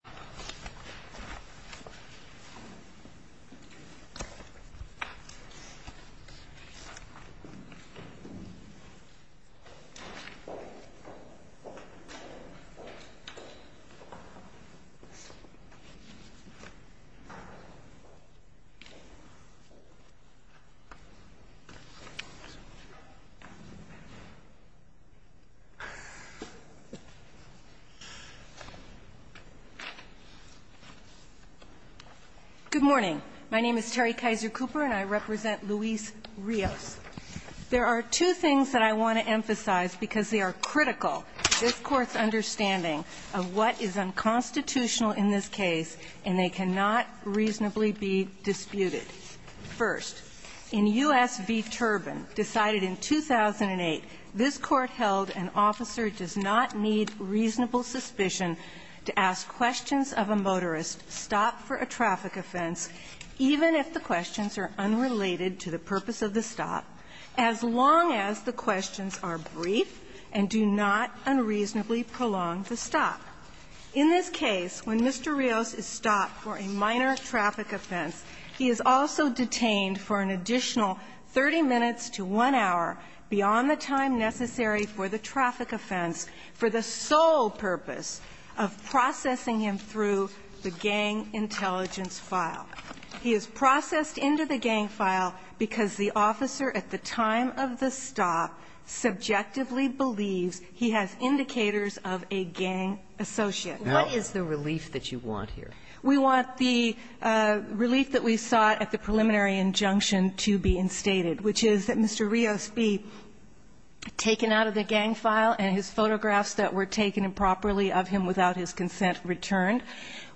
Rios v. City of Reno Good morning. My name is Terry Kaiser Cooper, and I represent Luis Rios. There are two things that I want to emphasize because they are critical to this Court's understanding of what is unconstitutional in this case, and they cannot reasonably be disputed. First, in U.S. v. Turbin, decided in 2008, this Court held an officer does not need reasonable suspicion to ask questions of a motorist stopped for a traffic offense, even if the questions are unrelated to the purpose of the stop, as long as the questions are brief and do not unreasonably prolong the stop. In this case, when Mr. Rios is stopped for a minor traffic offense, he is also detained for an additional 30 minutes to one hour beyond the time necessary for the traffic offense for the sole purpose of processing him through the gang intelligence file. He is processed into the gang file because the officer at the time of the stop subjectively believes he has indicators of a gang associate. What is the relief that you want here? We want the relief that we sought at the preliminary injunction to be instated, which is that Mr. Rios be taken out of the gang file and his photographs that were taken improperly of him without his consent returned.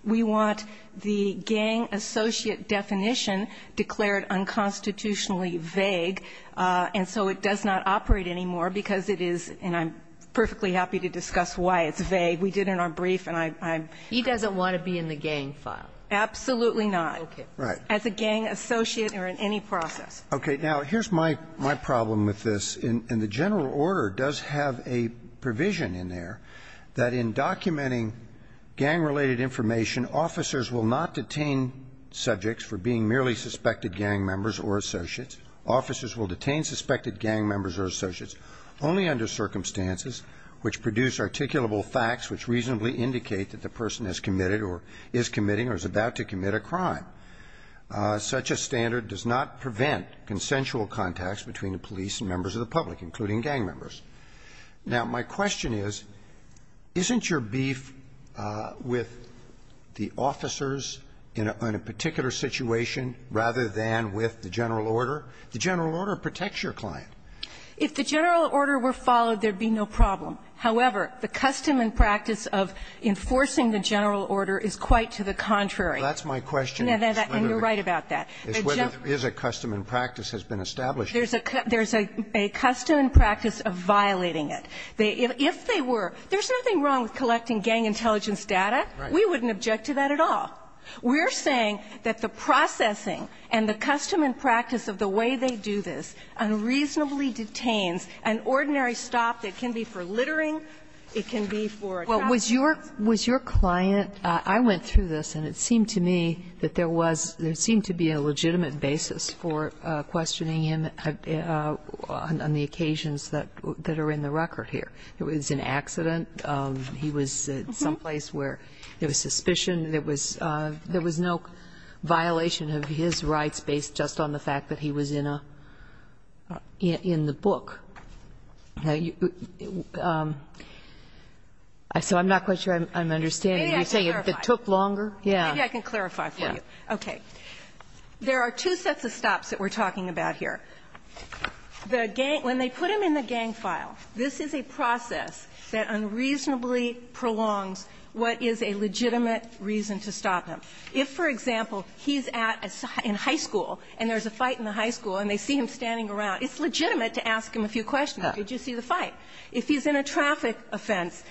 We want the gang associate definition declared unconstitutionally vague, and so it does not operate anymore because it is, and I'm perfectly happy to discuss why it's vague. We did in our brief, and I'm ‑‑ He doesn't want to be in the gang file. Absolutely not. Okay. Right. As a gang associate or in any process. Okay. Now, here's my problem with this. And the general order does have a provision in there that in documenting gang-related information, officers will not detain subjects for being merely suspected gang members or associates. Officers will detain suspected gang members or associates only under circumstances which produce articulable facts which reasonably indicate that the person has committed or is committing or is about to commit a crime. Such a standard does not prevent consensual contacts between the police and members of the public, including gang members. Now, my question is, isn't your beef with the officers in a particular situation rather than with the general order? The general order protects your client. If the general order were followed, there'd be no problem. However, the custom and practice of enforcing the general order is quite to the contrary. That's my question. And you're right about that. It's whether there is a custom and practice has been established. There's a custom and practice of violating it. If they were, there's nothing wrong with collecting gang intelligence data. Right. We wouldn't object to that at all. We're saying that the processing and the custom and practice of the way they do this unreasonably detains an ordinary stop that can be for littering, it can be for attacks. Well, was your client, I went through this, and it seemed to me that there was, there seemed to be a legitimate basis for questioning him on the occasions that are in the record here. It was an accident, he was at some place where there was suspicion, there was no violation of his rights based just on the fact that he was in a, in the book. So I'm not quite sure I'm understanding. You're saying it took longer? Yeah. Maybe I can clarify for you. Okay. There are two sets of stops that we're talking about here. The gang, when they put him in the gang file, this is a process that unreasonably prolongs what is a legitimate reason to stop him. If, for example, he's at a, in high school and there's a fight in the high school and they see him standing around, it's legitimate to ask him a few questions. Did you see the fight? If he's in a traffic offense,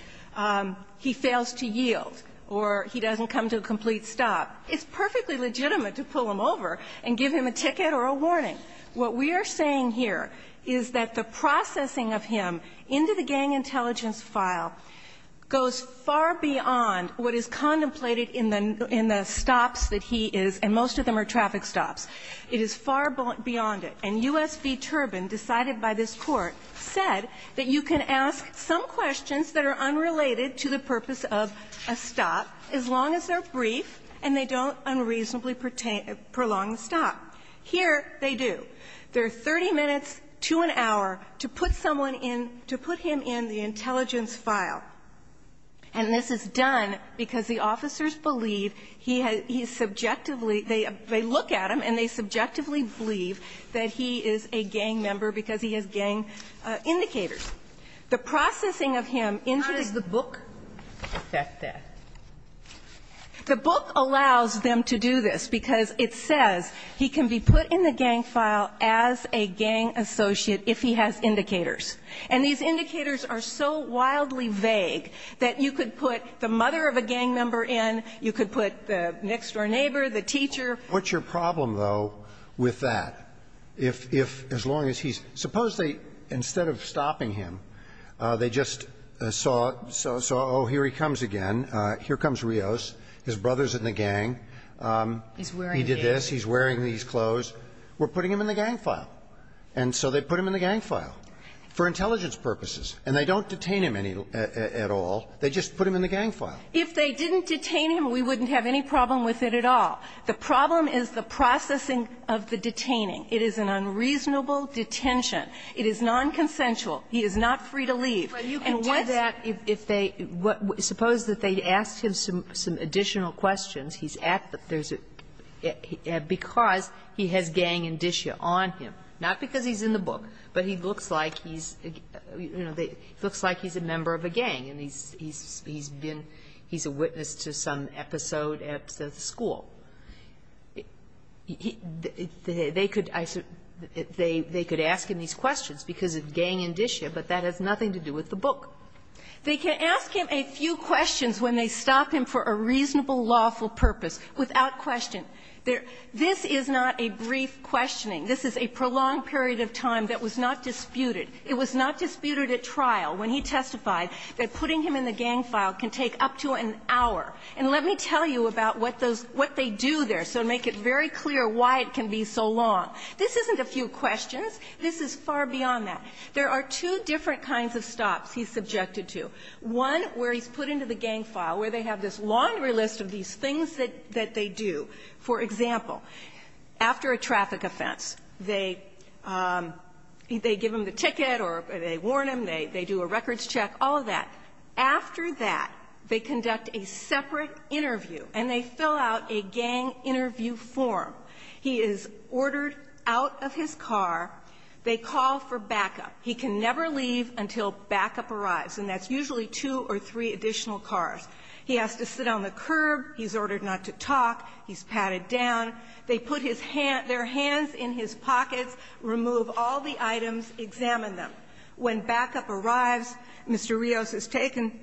he fails to yield, or he doesn't come to a complete stop, it's perfectly legitimate to pull him over and give him a ticket or a warning. What we are saying here is that the processing of him into the gang intelligence file goes far beyond what is contemplated in the, in the stops that he is, and most of them are traffic stops. It is far beyond it. And U.S. v. Turbin, decided by this Court, said that you can ask some questions that are unrelated to the purpose of a stop as long as they're brief and they don't unreasonably pertain, prolong the stop. Here, they do. They're 30 minutes to an hour to put someone in, to put him in the intelligence file. And this is done because the officers believe he has, he subjectively, they, they look at him and they subjectively believe that he is a gang member because he has gang indicators. The processing of him into the gang associate file, he can be put in the gang file as a gang associate if he has indicators. And these indicators are so wildly vague that you could put the mother of a gang member in, you could put the next-door neighbor, the teacher. What's your problem, though, with that? If, if, as long as he's, suppose they, instead of stopping him, they just saw, saw, oh, here he comes again, here comes Rios, his brother's in the gang. He's wearing this. He's wearing these clothes. We're putting him in the gang file. And so they put him in the gang file for intelligence purposes. And they don't detain him any, at all. They just put him in the gang file. If they didn't detain him, we wouldn't have any problem with it at all. The problem is the processing of the detaining. It is an unreasonable detention. It is nonconsensual. He is not free to leave. And once you do that, if they, suppose that they ask him some additional questions, he's at the, there's a, because he has gang indicia on him, not because he's in the book, but he looks like he's, you know, looks like he's a member of a gang. And he's, he's been, he's a witness to some episode at the school. They could, they could ask him these questions because of gang indicia, but that has nothing to do with the book. They can ask him a few questions when they stop him for a reasonable, lawful purpose, without question. There, this is not a brief questioning. This is a prolonged period of time that was not disputed. It was not disputed at trial when he testified that putting him in the gang file can take up to an hour. And let me tell you about what those, what they do there, so to make it very clear why it can be so long. This isn't a few questions. This is far beyond that. There are two different kinds of stops he's subjected to. One where he's put into the gang file, where they have this laundry list of these things that, that they do. For example, after a traffic offense, they, they give him the ticket or they warn him, they, they do a records check, all of that. After that, they conduct a separate interview and they fill out a gang interview form. He is ordered out of his car. They call for backup. He can never leave until backup arrives, and that's usually two or three additional cars. He has to sit on the curb. He's ordered not to talk. He's patted down. They put his hand, their hands in his pockets, remove all the items, examine them. When backup arrives, Mr. Rios is taken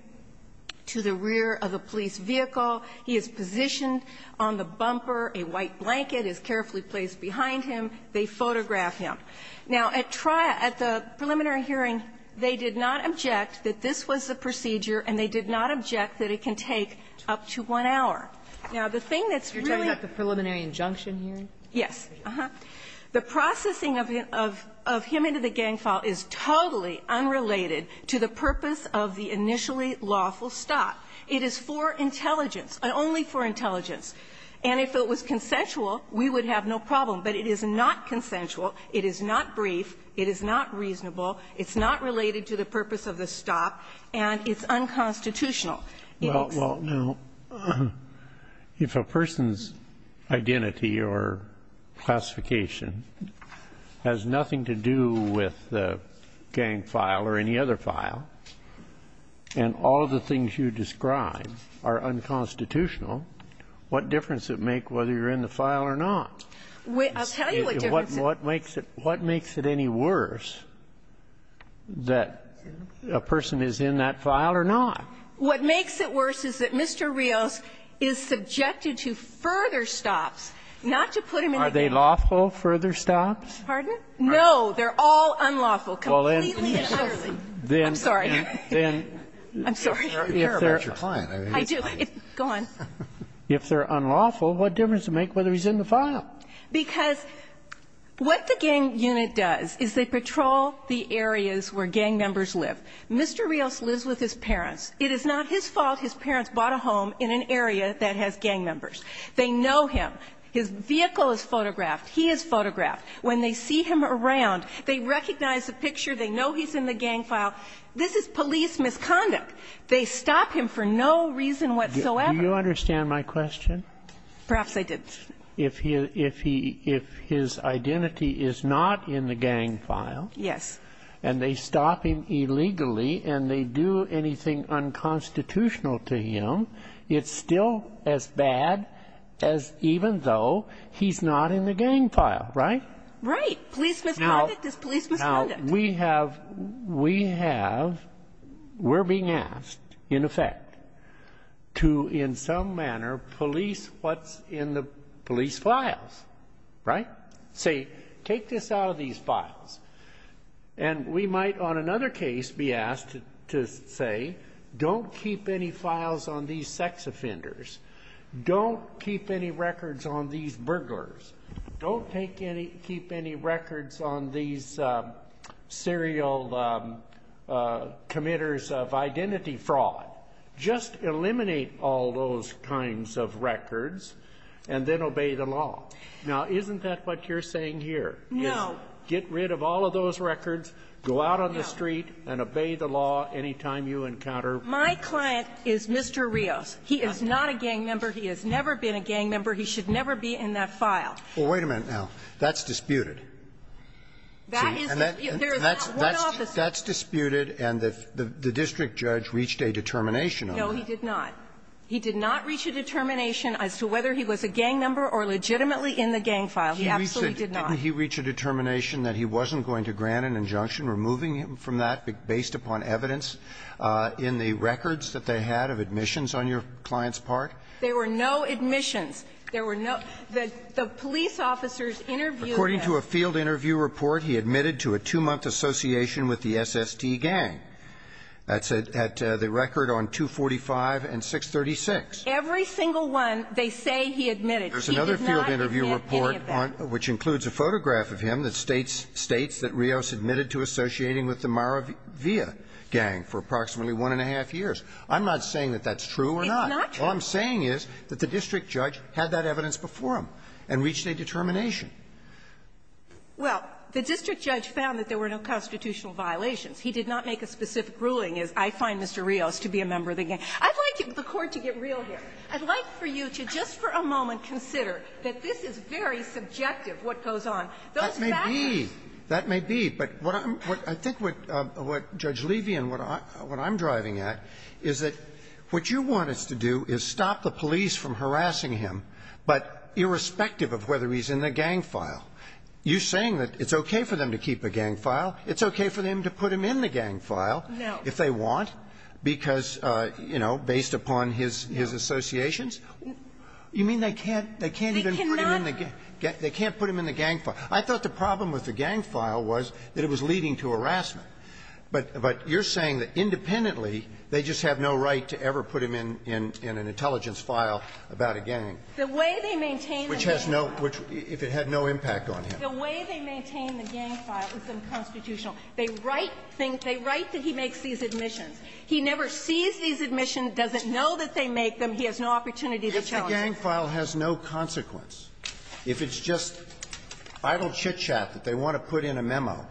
to the rear of a police vehicle. He is positioned on the bumper. A white blanket is carefully placed behind him. They photograph him. Now, at trial, at the preliminary hearing, they did not object that this was the procedure, and they did not object that it can take up to one hour. Now, the thing that's really the process of him, of, of him into the gang file is totally unrelated to the purpose of the initially lawful stop. It is for intelligence, only for intelligence. And if it was consensual, we would have no problem. But it is not consensual. It is not brief. It is not reasonable. It's not related to the purpose of the stop, and it's unconstitutional. It is not. So if you're in the gang file or any other file, and all of the things you describe are unconstitutional, what difference does it make whether you're in the file or not? I'll tell you what difference it makes. What makes it any worse that a person is in that file or not? What makes it worse is that Mr. Rios is subjected to further stops, not to put him in the gang. Are they lawful, further stops? Pardon? No, they're all unlawful. Completely and utterly. I'm sorry. I'm sorry. I do. Go on. If they're unlawful, what difference does it make whether he's in the file? Because what the gang unit does is they patrol the areas where gang members live. Mr. Rios lives with his parents. It is not his fault his parents bought a home in an area that has gang members. They know him. His vehicle is photographed. He is photographed. When they see him around, they recognize the picture. They know he's in the gang file. This is police misconduct. They stop him for no reason whatsoever. Do you understand my question? Perhaps I did. If he his identity is not in the gang file. Yes. And they stop him illegally and they do anything unconstitutional to him, it's still as bad as even though he's not in the gang file, right? Right. Police misconduct is police misconduct. Now, we have, we have, we're being asked, in effect, to, in some manner, police what's in the police files, right? Say, take this out of these files. And we might, on another case, be asked to say, don't keep any files on these sex offenders. Don't keep any records on these burglars. Don't take any, keep any records on these serial committers of identity fraud. Just eliminate all those kinds of records and then obey the law. Now, isn't that what you're saying here? No. Get rid of all of those records. Go out on the street and obey the law any time you encounter. My client is Mr. Rios. He is not a gang member. He has never been a gang member. He should never be in that file. Well, wait a minute now. That's disputed. That is disputed. There is not one officer. That's disputed, and the district judge reached a determination on that. No, he did not. He did not reach a determination as to whether he was a gang member or legitimately in the gang file. He absolutely did not. Didn't he reach a determination that he wasn't going to grant an injunction, removing him from that based upon evidence in the records that they had of admissions on your client's part? There were no admissions. There were no the police officers interviewed him. According to a field interview report, he admitted to a two-month association with the SST gang. That's at the record on 245 and 636. Every single one, they say he admitted. He did not admit any of that. There's another field interview report, which includes a photograph of him, that states that Rios admitted to associating with the Maravilla gang for approximately 1-1⁄2 years. I'm not saying that that's true or not. It's not true. All I'm saying is that the district judge had that evidence before him and reached a determination. Well, the district judge found that there were no constitutional violations. He did not make a specific ruling as, I find Mr. Rios to be a member of the gang. I'd like the Court to get real here. I'd like for you to just for a moment consider that this is very subjective what goes on. Those factors are subjective. That may be. But what I'm what I think what Judge Levy and what I'm driving at is that what you want us to do is stop the police from harassing him, but irrespective of whether he's in the gang file. You're saying that it's okay for them to keep a gang file. It's okay for them to put him in the gang file if they want, because, you know, based upon his associations. You mean they can't even put him in the gang file? I thought the problem with the gang file was that it was leading to harassment. But you're saying that independently, they just have no right to ever put him in an intelligence file about a gang. The way they maintain the gang file. Which has no – if it had no impact on him. The way they maintain the gang file is unconstitutional. They write things – they write that he makes these admissions. He never sees these admissions, doesn't know that they make them. He has no opportunity to challenge them. If the gang file has no consequence, if it's just idle chit-chat that they want to put in a memo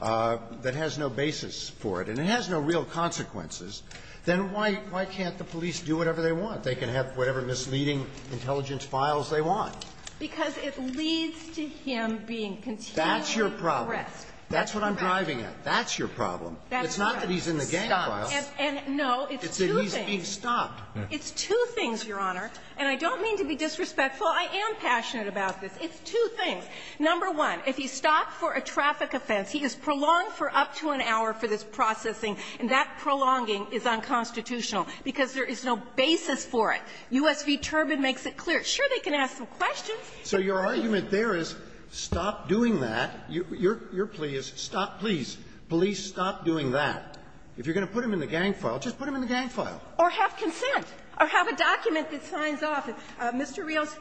that has no basis for it, and it has no real consequences, then why can't the police do whatever they want? They can have whatever misleading intelligence files they want. Because it leads to him being continually harassed. That's your problem. That's what I'm driving at. That's your problem. It's not that he's in the gang file. And no, it's two things. It's that he's being stopped. It's two things, Your Honor, and I don't mean to be disrespectful. I am passionate about this. It's two things. Number one, if he's stopped for a traffic offense, he is prolonged for up to an hour for this processing, and that prolonging is unconstitutional because there is no basis for it. US v. Turbin makes it clear. Sure, they can ask some questions. If they don't do it, they can't do it. Roberts, so your argument there is stop doing that. You're pleased. Stop, please. Police, stop doing that. If you're going to put him in the gang file, just put him in the gang file. Or have consent. Or have a document that signs off. Mr. Rios,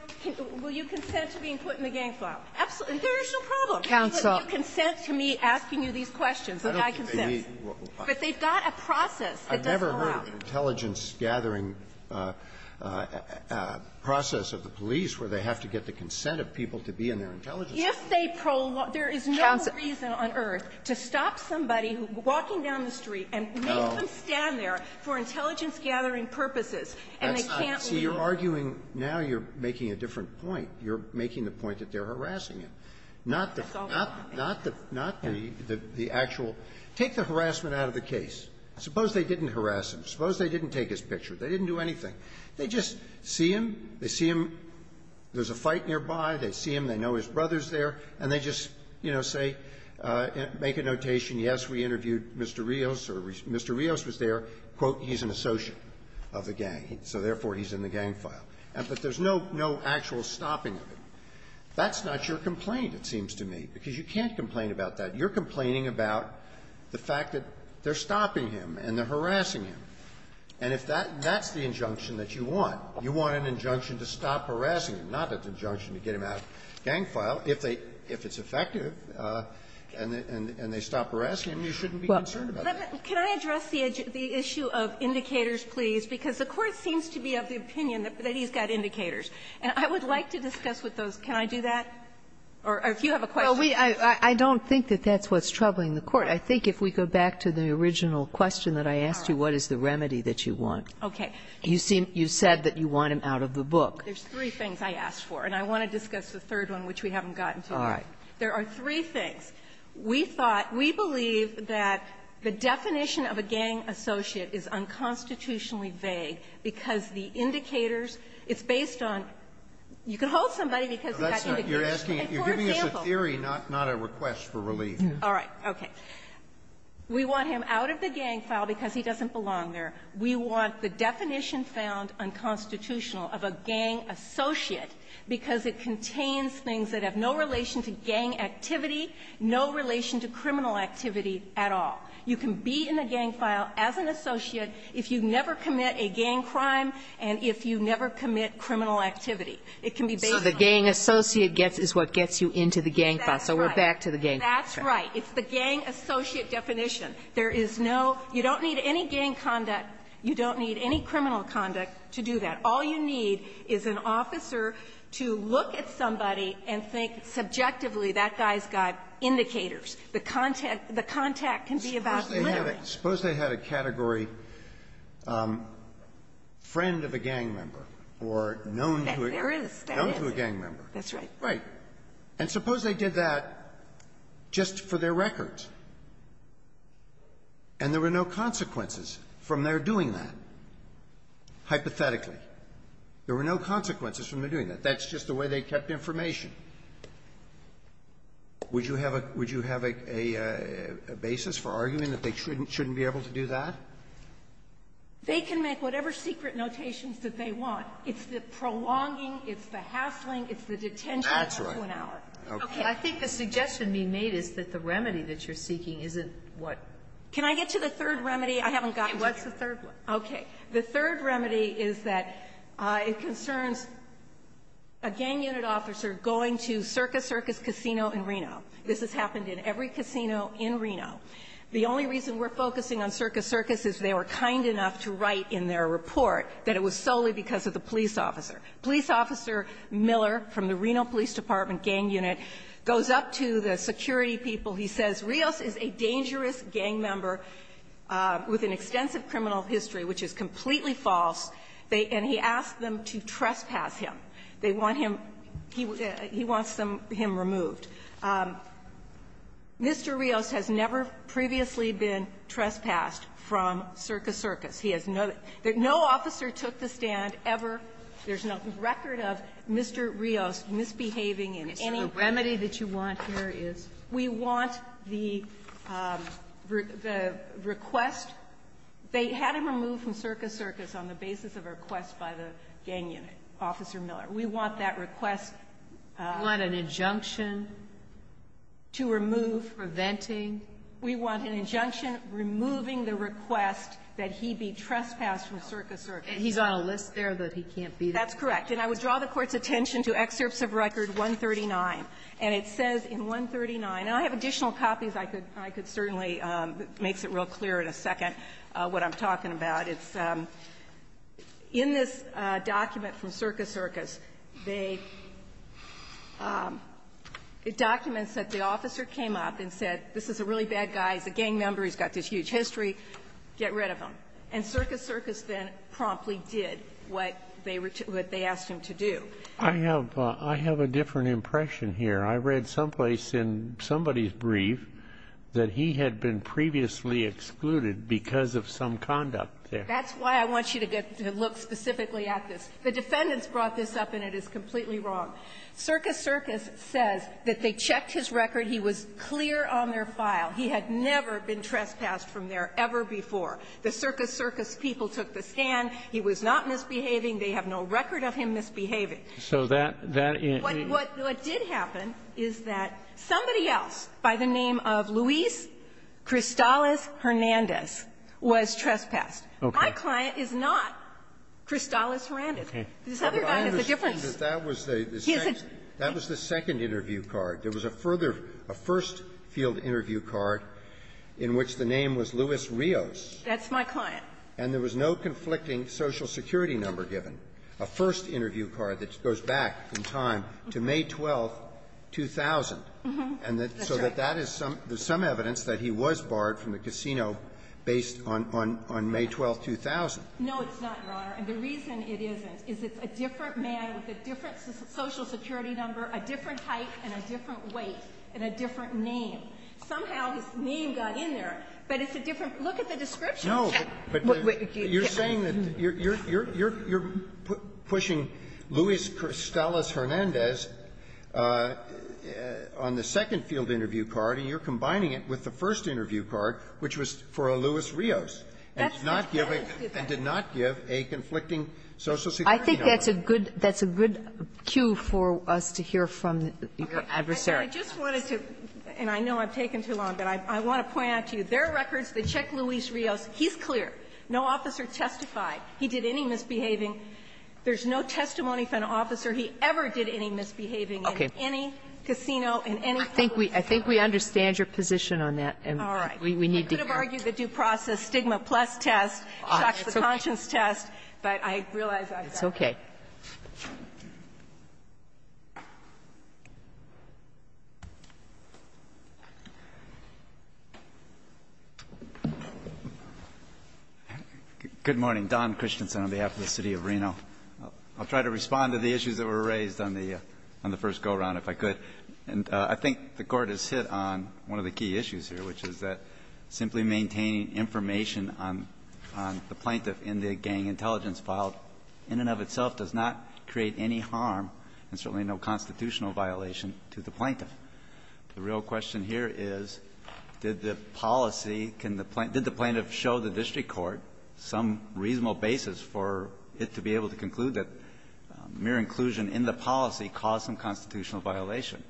will you consent to being put in the gang file? Absolutely. There is no problem. Counsel. But you consent to me asking you these questions, and I consent. But they've got a process that doesn't allow. I've never heard of an intelligence-gathering process of the police where they have to get the consent of people to be in their intelligence. If they prolong them, there is no reason on earth to stop somebody walking down the street and make them stand there for intelligence-gathering purposes, and they can't leave. See, you're arguing now you're making a different point. You're making the point that they're harassing him, not the actual – take the harassment out of the case. Suppose they didn't harass him. Suppose they didn't take his picture. They didn't do anything. They just see him. They see him. There's a fight nearby. They see him. They know his brother's there. And they just, you know, say, make a notation, yes, we interviewed Mr. Rios, or Mr. Rios was there. Quote, he's an associate of the gang. So, therefore, he's in the gang file. And that there's no actual stopping of it. That's not your complaint, it seems to me, because you can't complain about that. You're complaining about the fact that they're stopping him and they're harassing him. And if that's the injunction that you want, you want an injunction to stop harassing him, not an injunction to get him out of the gang file, if they – if it's effective and they stop harassing him, you shouldn't be concerned about that. Can I address the issue of indicators, please? Because the Court seems to be of the opinion that he's got indicators. And I would like to discuss with those – can I do that? Or if you have a question. Kagan. Well, we – I don't think that that's what's troubling the Court. I think if we go back to the original question that I asked you, what is the remedy that you want? Okay. You seem – you said that you want him out of the book. There's three things I asked for, and I want to discuss the third one, which we haven't gotten to yet. All right. There are three things. We thought – we believe that the definition of a gang associate is unconstitutionally vague because the indicators – it's based on – you can hold somebody because he's got indicators. For example – You're asking – you're giving us a theory, not a request for relief. All right. Okay. We want him out of the gang file because he doesn't belong there. We want the definition found unconstitutional of a gang associate because it contains things that have no relation to gang activity, no relation to criminal activity at all. You can be in a gang file as an associate if you never commit a gang crime and if you never commit criminal activity. It can be based on – So the gang associate gets – is what gets you into the gang file. So we're back to the gang file. That's right. It's the gang associate definition. There is no – you don't need any gang conduct. You don't need any criminal conduct to do that. All you need is an officer to look at somebody and think subjectively, that guy's got indicators. The contact – the contact can be about literally – Suppose they had a category friend of a gang member or known to a – That there is. That is. Known to a gang member. That's right. Right. And suppose they did that just for their records and there were no consequences from their doing that, hypothetically. There were no consequences from their doing that. That's just the way they kept information. Would you have a – would you have a basis for arguing that they shouldn't be able to do that? They can make whatever secret notations that they want. It's the prolonging, it's the hassling, it's the detention. That's right. Of an hour. Okay. I think the suggestion being made is that the remedy that you're seeking isn't what – Can I get to the third remedy? I haven't got – What's the third one? Okay. The third remedy is that it concerns a gang unit officer going to Circus Circus Casino in Reno. This has happened in every casino in Reno. The only reason we're focusing on Circus Circus is they were kind enough to write in their report that it was solely because of the police officer. Police Officer Miller from the Reno Police Department gang unit goes up to the security people. He says, Rios is a dangerous gang member with an extensive criminal history, which is completely false, and he asks them to trespass him. They want him – he wants him removed. Mr. Rios has never previously been trespassed from Circus Circus. He has no – no officer took the stand ever. There's no record of Mr. Rios misbehaving in any way. The remedy that you want here is? We want the request – they had him removed from Circus Circus on the basis of a request by the gang unit, Officer Miller. We want that request – You want an injunction to remove – Preventing. We want an injunction removing the request that he be trespassed from Circus Circus. He's on a list there that he can't be there. That's correct. And I would draw the Court's attention to Excerpts of Record 139, and it says in 139 – and I have additional copies I could certainly – makes it real clear in a second what I'm talking about. It's – in this document from Circus Circus, they – it documents that the officer came up and said, this is a really bad guy, he's a gang member, he's got this huge history, get rid of him. And Circus Circus then promptly did what they asked him to do. I have a different impression here. I read someplace in somebody's brief that he had been previously excluded because of some conduct there. That's why I want you to get – to look specifically at this. The defendants brought this up, and it is completely wrong. Circus Circus says that they checked his record. He was clear on their file. He had never been trespassed from there ever before. The Circus Circus people took the stand. He was not misbehaving. They have no record of him misbehaving. So that – that – What did happen is that somebody else by the name of Luis Cristales-Hernandez was trespassed. My client is not Cristales-Hernandez. This other guy is a different – But I understand that that was the second interview card. There was a further – a first field interview card in which the name was Luis Rios. That's my client. And there was no conflicting Social Security number given. A first interview card that goes back in time to May 12th, 2000. And so that that is some – there's some evidence that he was barred from the casino based on – on May 12th, 2000. No, it's not, Your Honor. And the reason it isn't is it's a different man with a different Social Security number, a different height, and a different weight, and a different name. Somehow his name got in there, but it's a different – look at the description. No, but you're saying that you're – you're pushing Luis Cristales-Hernandez on the second field interview card, and you're combining it with the first interview card, which was for a Luis Rios, and did not give a conflicting Social Security number. I think that's a good – that's a good cue for us to hear from your adversary. And I just wanted to – and I know I've taken too long, but I want to point out to you that he's clear. No officer testified he did any misbehaving. There's no testimony from an officer he ever did any misbehaving in any casino, in any place. I think we – I think we understand your position on that, and we need to hear it. All right. I could have argued the due process stigma plus test shocks the conscience test, but I realize I've got to. It's okay. Good morning. Don Christensen on behalf of the City of Reno. I'll try to respond to the issues that were raised on the – on the first go-around if I could. And I think the Court has hit on one of the key issues here, which is that simply maintaining information on the plaintiff in the gang intelligence file in and of itself does not create any harm and certainly no constitutional violation to the plaintiff. The real question here is, did the policy – can the plaintiff – did the plaintiff show the district court some reasonable basis for it to be able to conclude that mere inclusion in the policy caused some constitutional violation?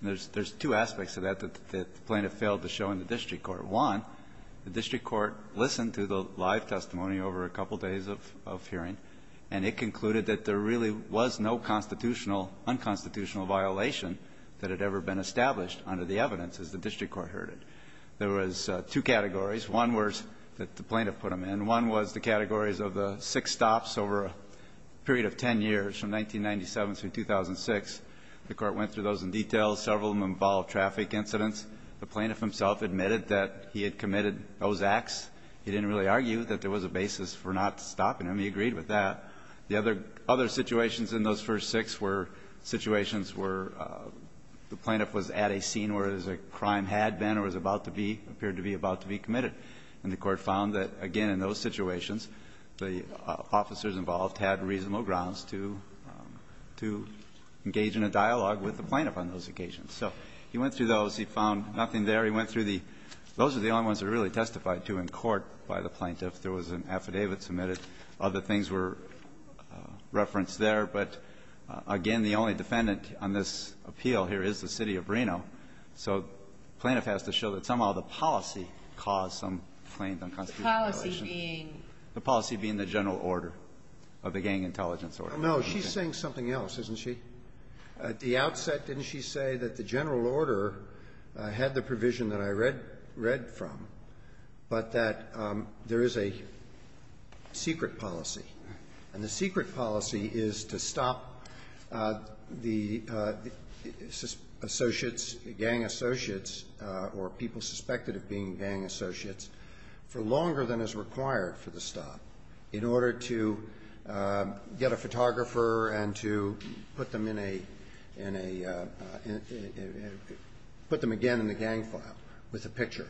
And there's – there's two aspects to that that the plaintiff failed to show in the district court. One, the district court listened to the live testimony over a couple days of hearing, and it concluded that there really was no constitutional – unconstitutional violation that had ever been established under the evidence, as the district court heard it. There was two categories. One was – that the plaintiff put them in. One was the categories of the six stops over a period of 10 years, from 1997 through 2006. The court went through those in detail. Several of them involved traffic incidents. The plaintiff himself admitted that he had committed those acts. He didn't really argue that there was a basis for not stopping them. He agreed with that. The other – other situations in those first six were situations where the plaintiff was at a scene where there was a crime had been or was about to be – appeared to be about to be committed. And the court found that, again, in those situations, the officers involved had reasonable grounds to – to engage in a dialogue with the plaintiff on those occasions. So he went through those. He found nothing there. He went through the – those are the only ones that are really testified to in court by the plaintiff. There was an affidavit submitted. Other things were referenced there. But, again, the only defendant on this appeal here is the city of Breno. So the plaintiff has to show that somehow the policy caused some claims on constitution violation. The policy being? The policy being the general order of the gang intelligence order. No. She's saying something else, isn't she? At the outset, didn't she say that the general order had the provision that I read from, but that there is a secret policy, and the secret policy is to stop the associates, gang associates, or people suspected of being gang associates, for longer than is required for the stop in order to get a photographer and to put them in a – in a – put them again in the gang file with a picture,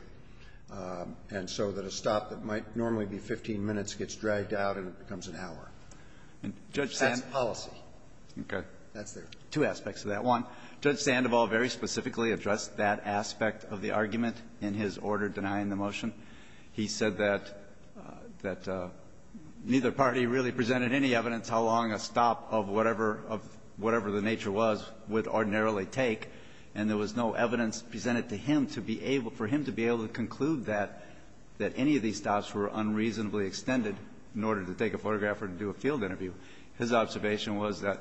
and so that a stop that might normally be 15 minutes gets dragged out and it becomes an hour. And Judge Sandoval – That's policy. Okay. That's their – Two aspects of that. One, Judge Sandoval very specifically addressed that aspect of the argument in his order denying the motion. He said that – that neither party really presented any evidence how long a stop of whatever – of whatever the nature was would ordinarily take, and there was no evidence presented to him to be able – for him to be able to conclude that – that any of these stops were unreasonably extended in order to take a photographer and do a field interview. His observation was that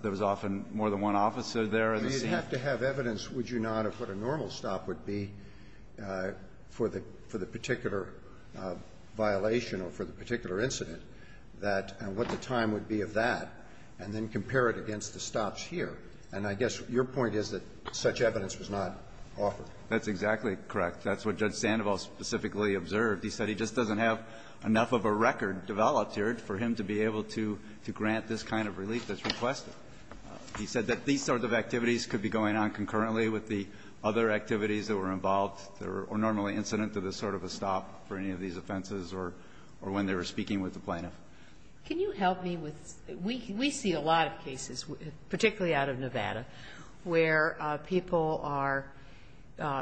there was often more than one officer there at a time. You'd have to have evidence, would you not, of what a normal stop would be for the – for the particular violation or for the particular incident, that – and what the time would be of that, and then compare it against the stops here. And I guess your point is that such evidence was not offered. That's exactly correct. That's what Judge Sandoval specifically observed. He said he just doesn't have enough of a record developed here for him to be able to – to grant this kind of relief that's requested. He said that these sort of activities could be going on concurrently with the other activities that were involved or normally incident to this sort of a stop for any of these offenses or – or when they were speaking with the plaintiff. Can you help me with – we see a lot of cases, particularly out of Nevada, where people are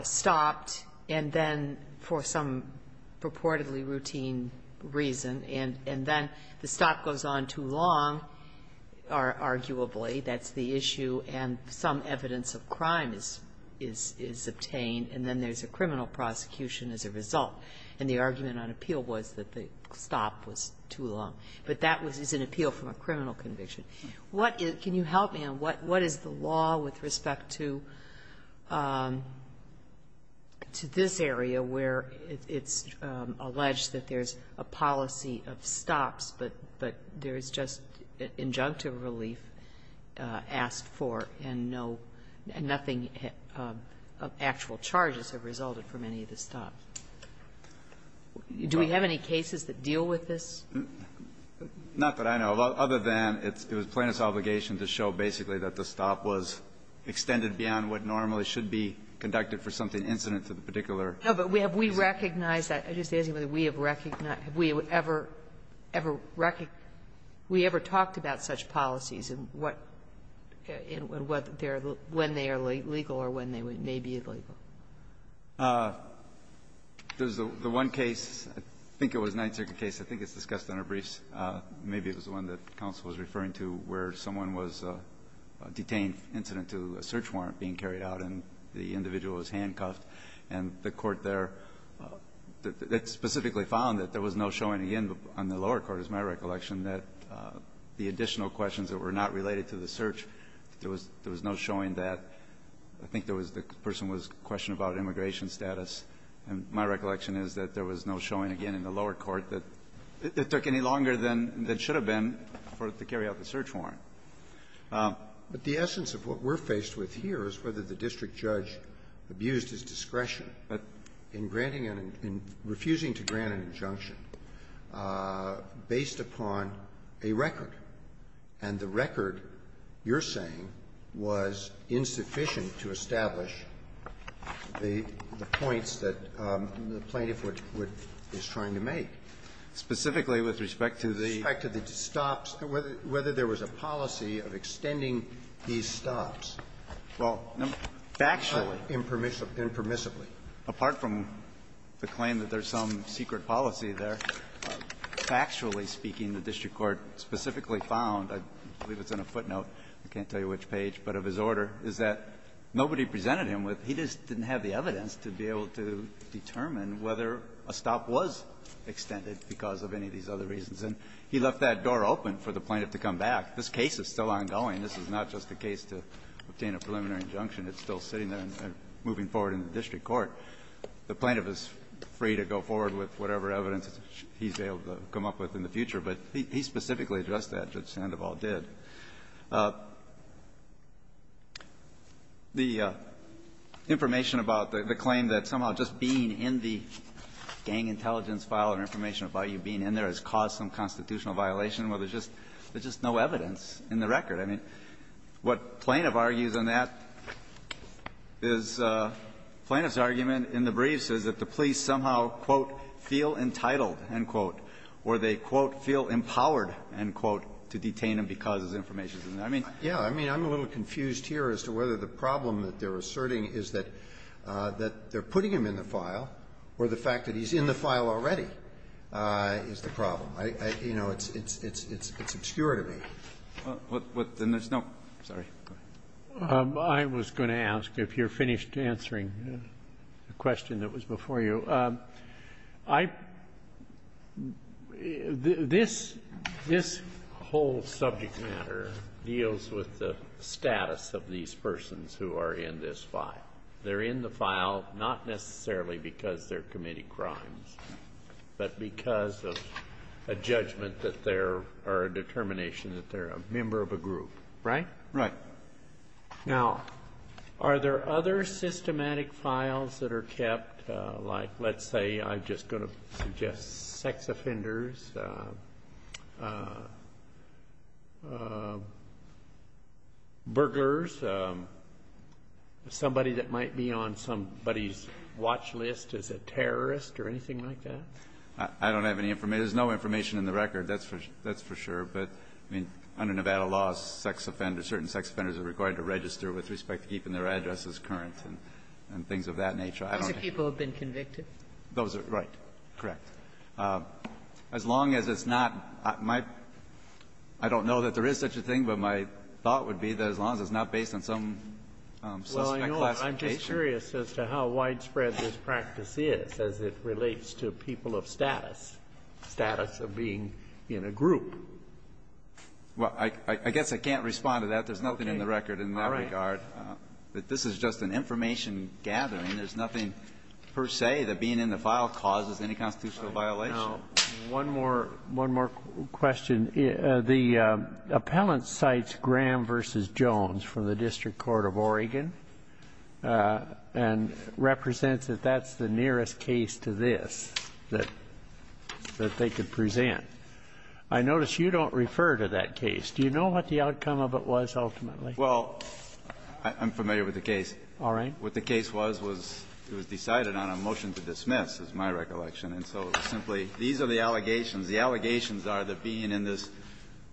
stopped and then for some purportedly routine reason, and then the stop goes on too long, arguably. That's the issue. And some evidence of crime is – is obtained. And then there's a criminal prosecution as a result. And the argument on appeal was that the stop was too long. But that was – is an appeal from a criminal conviction. What is – can you help me on what – what is the law with respect to – to this area where it's alleged that there's a policy of stops, but there's just injunctive relief that we have asked for, and no – nothing actual charges have resulted from any of the stops? Do we have any cases that deal with this? Not that I know of, other than it's – it was plaintiff's obligation to show basically that the stop was extended beyond what normally should be conducted for something incident to the particular case. No, but have we recognized that – I'm just asking whether we have – have we ever – ever recognized – we ever talked about such policies and what – and what they're – when they are legal or when they may be illegal? There's the one case, I think it was a Ninth Circuit case, I think it's discussed in our briefs. Maybe it was the one that counsel was referring to where someone was detained incident to a search warrant being carried out, and the individual was handcuffed, and the court there – it specifically found that there was no showing of the end on the lower court, is my recollection, that the additional questions that were not related to the search, there was no showing that – I think there was – the person was questioning about immigration status, and my recollection is that there was no showing, again, in the lower court that it took any longer than it should have been for it to carry out the search warrant. But the essence of what we're faced with here is whether the district judge abused his discretion in granting an – in refusing to grant an injunction based upon a record. And the record, you're saying, was insufficient to establish the points that the plaintiff would – is trying to make. Specifically with respect to the – With respect to the stops. Whether there was a policy of extending these stops. Well, factually. Impermissibly. Apart from the claim that there's some secret policy there, factually speaking, the district court specifically found – I believe it's in a footnote, I can't tell you which page – but of his order is that nobody presented him with – he just didn't have the evidence to be able to determine whether a stop was extended because of any of these other reasons. And he left that door open for the plaintiff to come back. This case is still ongoing. This is not just a case to obtain a preliminary injunction. It's still sitting there and moving forward in the district court. The plaintiff is free to go forward with whatever evidence he's able to come up with in the future. But he specifically addressed that, Judge Sandoval did. The information about the claim that somehow just being in the gang intelligence file and information about you being in there has caused some constitutional violation, well, there's just no evidence in the record. I mean, what plaintiff argues on that is plaintiff's argument in the briefs is that the police somehow, quote, feel entitled, end quote, or they, quote, feel empowered, end quote, to detain him because his information is in there. I mean, I'm a little confused here as to whether the problem that they're asserting is that they're putting him in the file or the fact that he's in the file already is the problem. You know, it's obscure to me. What's the next note? I'm sorry. Go ahead. I was going to ask, if you're finished answering the question that was before you, I this whole subject matter deals with the status of these persons who are in this file. They're in the file not necessarily because they're committing crimes, but because of a judgment that they're, or a determination that they're a member of a group, right? Right. Now, are there other systematic files that are kept, like, let's say, I'm just going to suggest sex offenders, burglars, somebody that might be on somebody's watch list as a terrorist or anything like that? I don't have any information. There's no information in the record, that's for sure. But, I mean, under Nevada law, sex offenders, certain sex offenders are required to register with respect to keeping their addresses current and things of that nature. I don't know. Those are people who have been convicted? Those are, right, correct. As long as it's not my – I don't know that there is such a thing, but my thought would be that as long as it's not based on some suspect classification. I'm just curious as to how widespread this practice is as it relates to people of status, status of being in a group. Well, I guess I can't respond to that. There's nothing in the record in that regard. All right. But this is just an information gathering. There's nothing per se that being in the file causes any constitutional violation. Now, one more question. The appellant cites Graham v. Jones from the District Court of Oregon. And represents that that's the nearest case to this that they could present. I notice you don't refer to that case. Do you know what the outcome of it was ultimately? Well, I'm familiar with the case. All right. What the case was, was it was decided on a motion to dismiss, is my recollection. And so simply, these are the allegations. The allegations are that being in this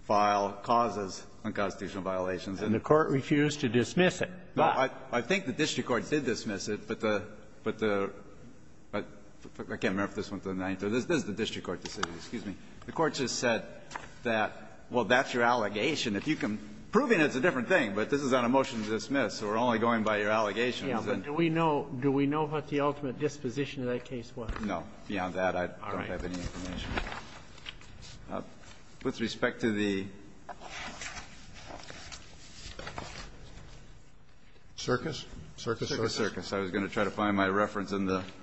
file causes unconstitutional violations. And the Court refused to dismiss it. No, I think the district court did dismiss it, but the – but the – I can't remember if this went to the Ninth or the – this is the district court decision. Excuse me. The Court just said that, well, that's your allegation. If you can – proving it's a different thing, but this is on a motion to dismiss. So we're only going by your allegations. Yeah. But do we know – do we know what the ultimate disposition of that case was? No. Beyond that, I don't have any information. All right. With respect to the circus, Circus Circus, I was going to try to find my reference in the –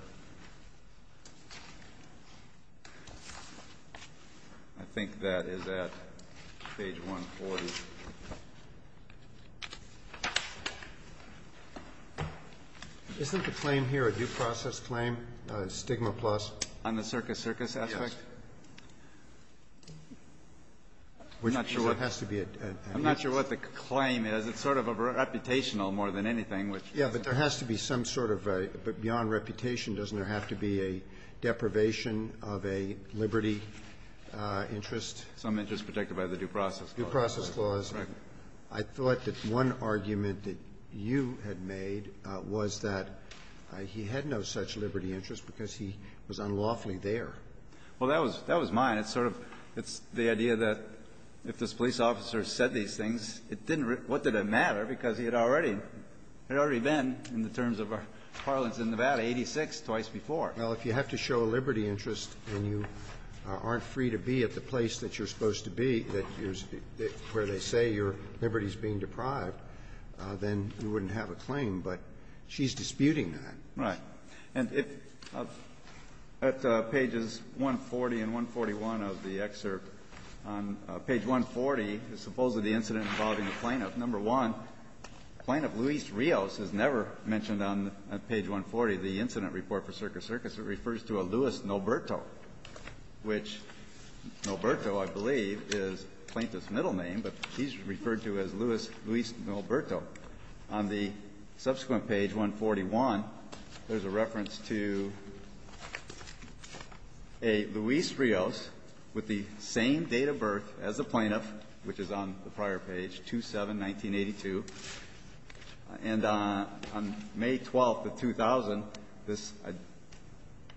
I think that is at page 140. Isn't the claim here a due process claim, stigma plus? On the Circus Circus aspect? Yes. I'm not sure what the claim is. It's sort of a reputational more than anything, which – Yeah, but there has to be some sort of a – but beyond reputation, doesn't there have to be a deprivation of a liberty interest? Some interest protected by the due process clause. Due process clause. Right. I thought that one argument that you had made was that he had no such liberty interest because he was unlawfully there. Well, that was – that was mine. It's sort of – it's the idea that if this police officer said these things, it didn't – what did it matter? Because he had already – had already been, in the terms of our parlance in Nevada, 86 twice before. Well, if you have to show a liberty interest and you aren't free to be at the place that you're supposed to be, that you're – where they say your liberty is being deprived, then you wouldn't have a claim, but she's disputing that. Right. And if – at pages 140 and 141 of the excerpt, on page 140, supposedly the incident involving the plaintiff, number one, Plaintiff Luis Rios is never mentioned on page 140, the incident report for Circus Circus. It refers to a Luis Noberto, which Noberto, I believe, is plaintiff's middle name, but he's referred to as Luis – Luis Noberto. On the subsequent page, 141, there's a reference to a Luis Rios with the same date of birth as the plaintiff, which is on the prior page, 2-7-1982. And on May 12th of 2000, this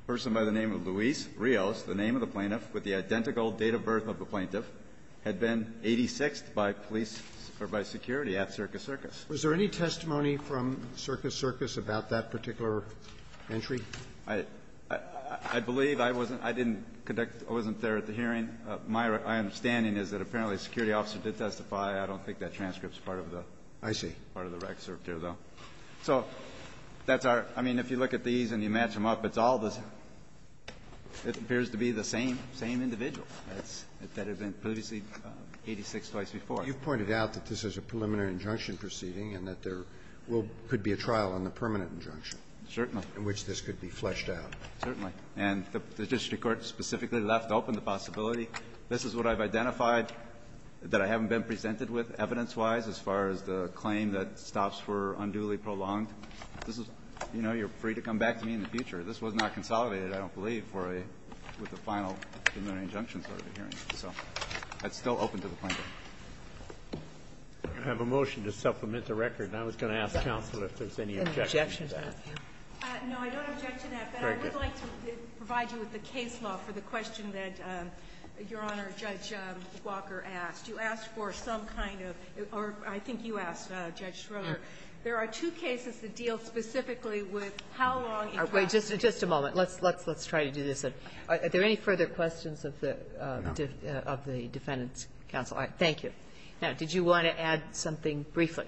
person by the name of Luis Rios, the name of the plaintiff with the identical date of birth of the plaintiff, had been 86th by police – or by security at Circus Circus. Was there any testimony from Circus Circus about that particular entry? I – I believe. I wasn't – I didn't conduct – I wasn't there at the hearing. My understanding is that apparently a security officer did testify. I don't think that transcript is part of the – part of the recerpt here, though. So that's our – I mean, if you look at these and you match them up, it's all the same. It appears to be the same individual that had been previously 86th twice before. You've pointed out that this is a preliminary injunction proceeding and that there will – could be a trial on the permanent injunction. Certainly. In which this could be fleshed out. Certainly. And the district court specifically left open the possibility. This is what I've identified that I haven't been presented with evidence-wise as far as the claim that stops were unduly prolonged. This is – you know, you're free to come back to me in the future. This was not consolidated, I don't believe, for a – with the final preliminary injunction sort of a hearing. So that's still open to the plaintiff. I have a motion to supplement the record. And I was going to ask counsel if there's any objection to that. No, I don't object to that. But I would like to provide you with the case law for the question that Your Honor, Judge Walker asked. You asked for some kind of – or I think you asked, Judge Schroeder. There are two cases that deal specifically with how long it lasts. Wait. Just a moment. Let's try to do this. Are there any further questions of the defendant's counsel? Thank you. Now, did you want to add something briefly?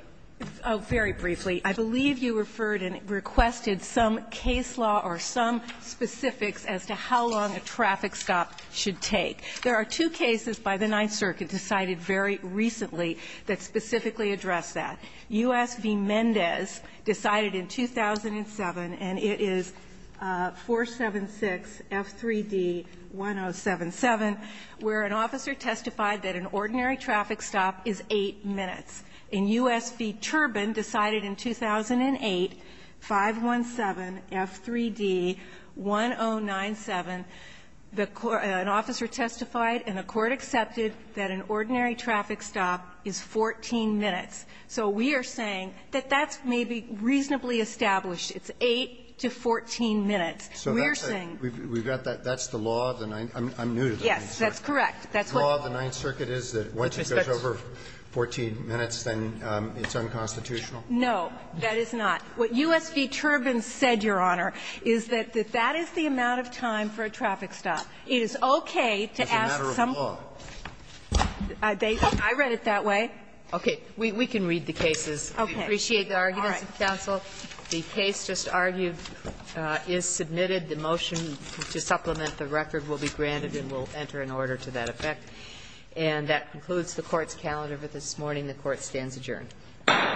Oh, very briefly. I believe you referred and requested some case law or some specifics as to how long a traffic stop should take. There are two cases by the Ninth Circuit decided very recently that specifically address that. U.S. v. Mendez decided in 2007, and it is 476 F3D 1077, where an officer testified that an ordinary traffic stop is 8 minutes. And U.S. v. Turbin decided in 2008, 517 F3D 1097, an officer testified and a court accepted that an ordinary traffic stop is 14 minutes. So we are saying that that's maybe reasonably established. It's 8 to 14 minutes. We're saying – So that's the law of the Ninth – I'm new to the Ninth Circuit. Yes. That's correct. The law of the Ninth Circuit is that once it goes over 14 minutes, then it's unconstitutional? No, that is not. What U.S. v. Turbin said, Your Honor, is that that is the amount of time for a traffic stop. It is okay to ask some – As a matter of law. I read it that way. Okay. We can read the cases. Okay. We appreciate the arguments of counsel. The case just argued is submitted. The motion to supplement the record will be granted and will enter in order to that effect. And that concludes the Court's calendar for this morning. The Court stands adjourned.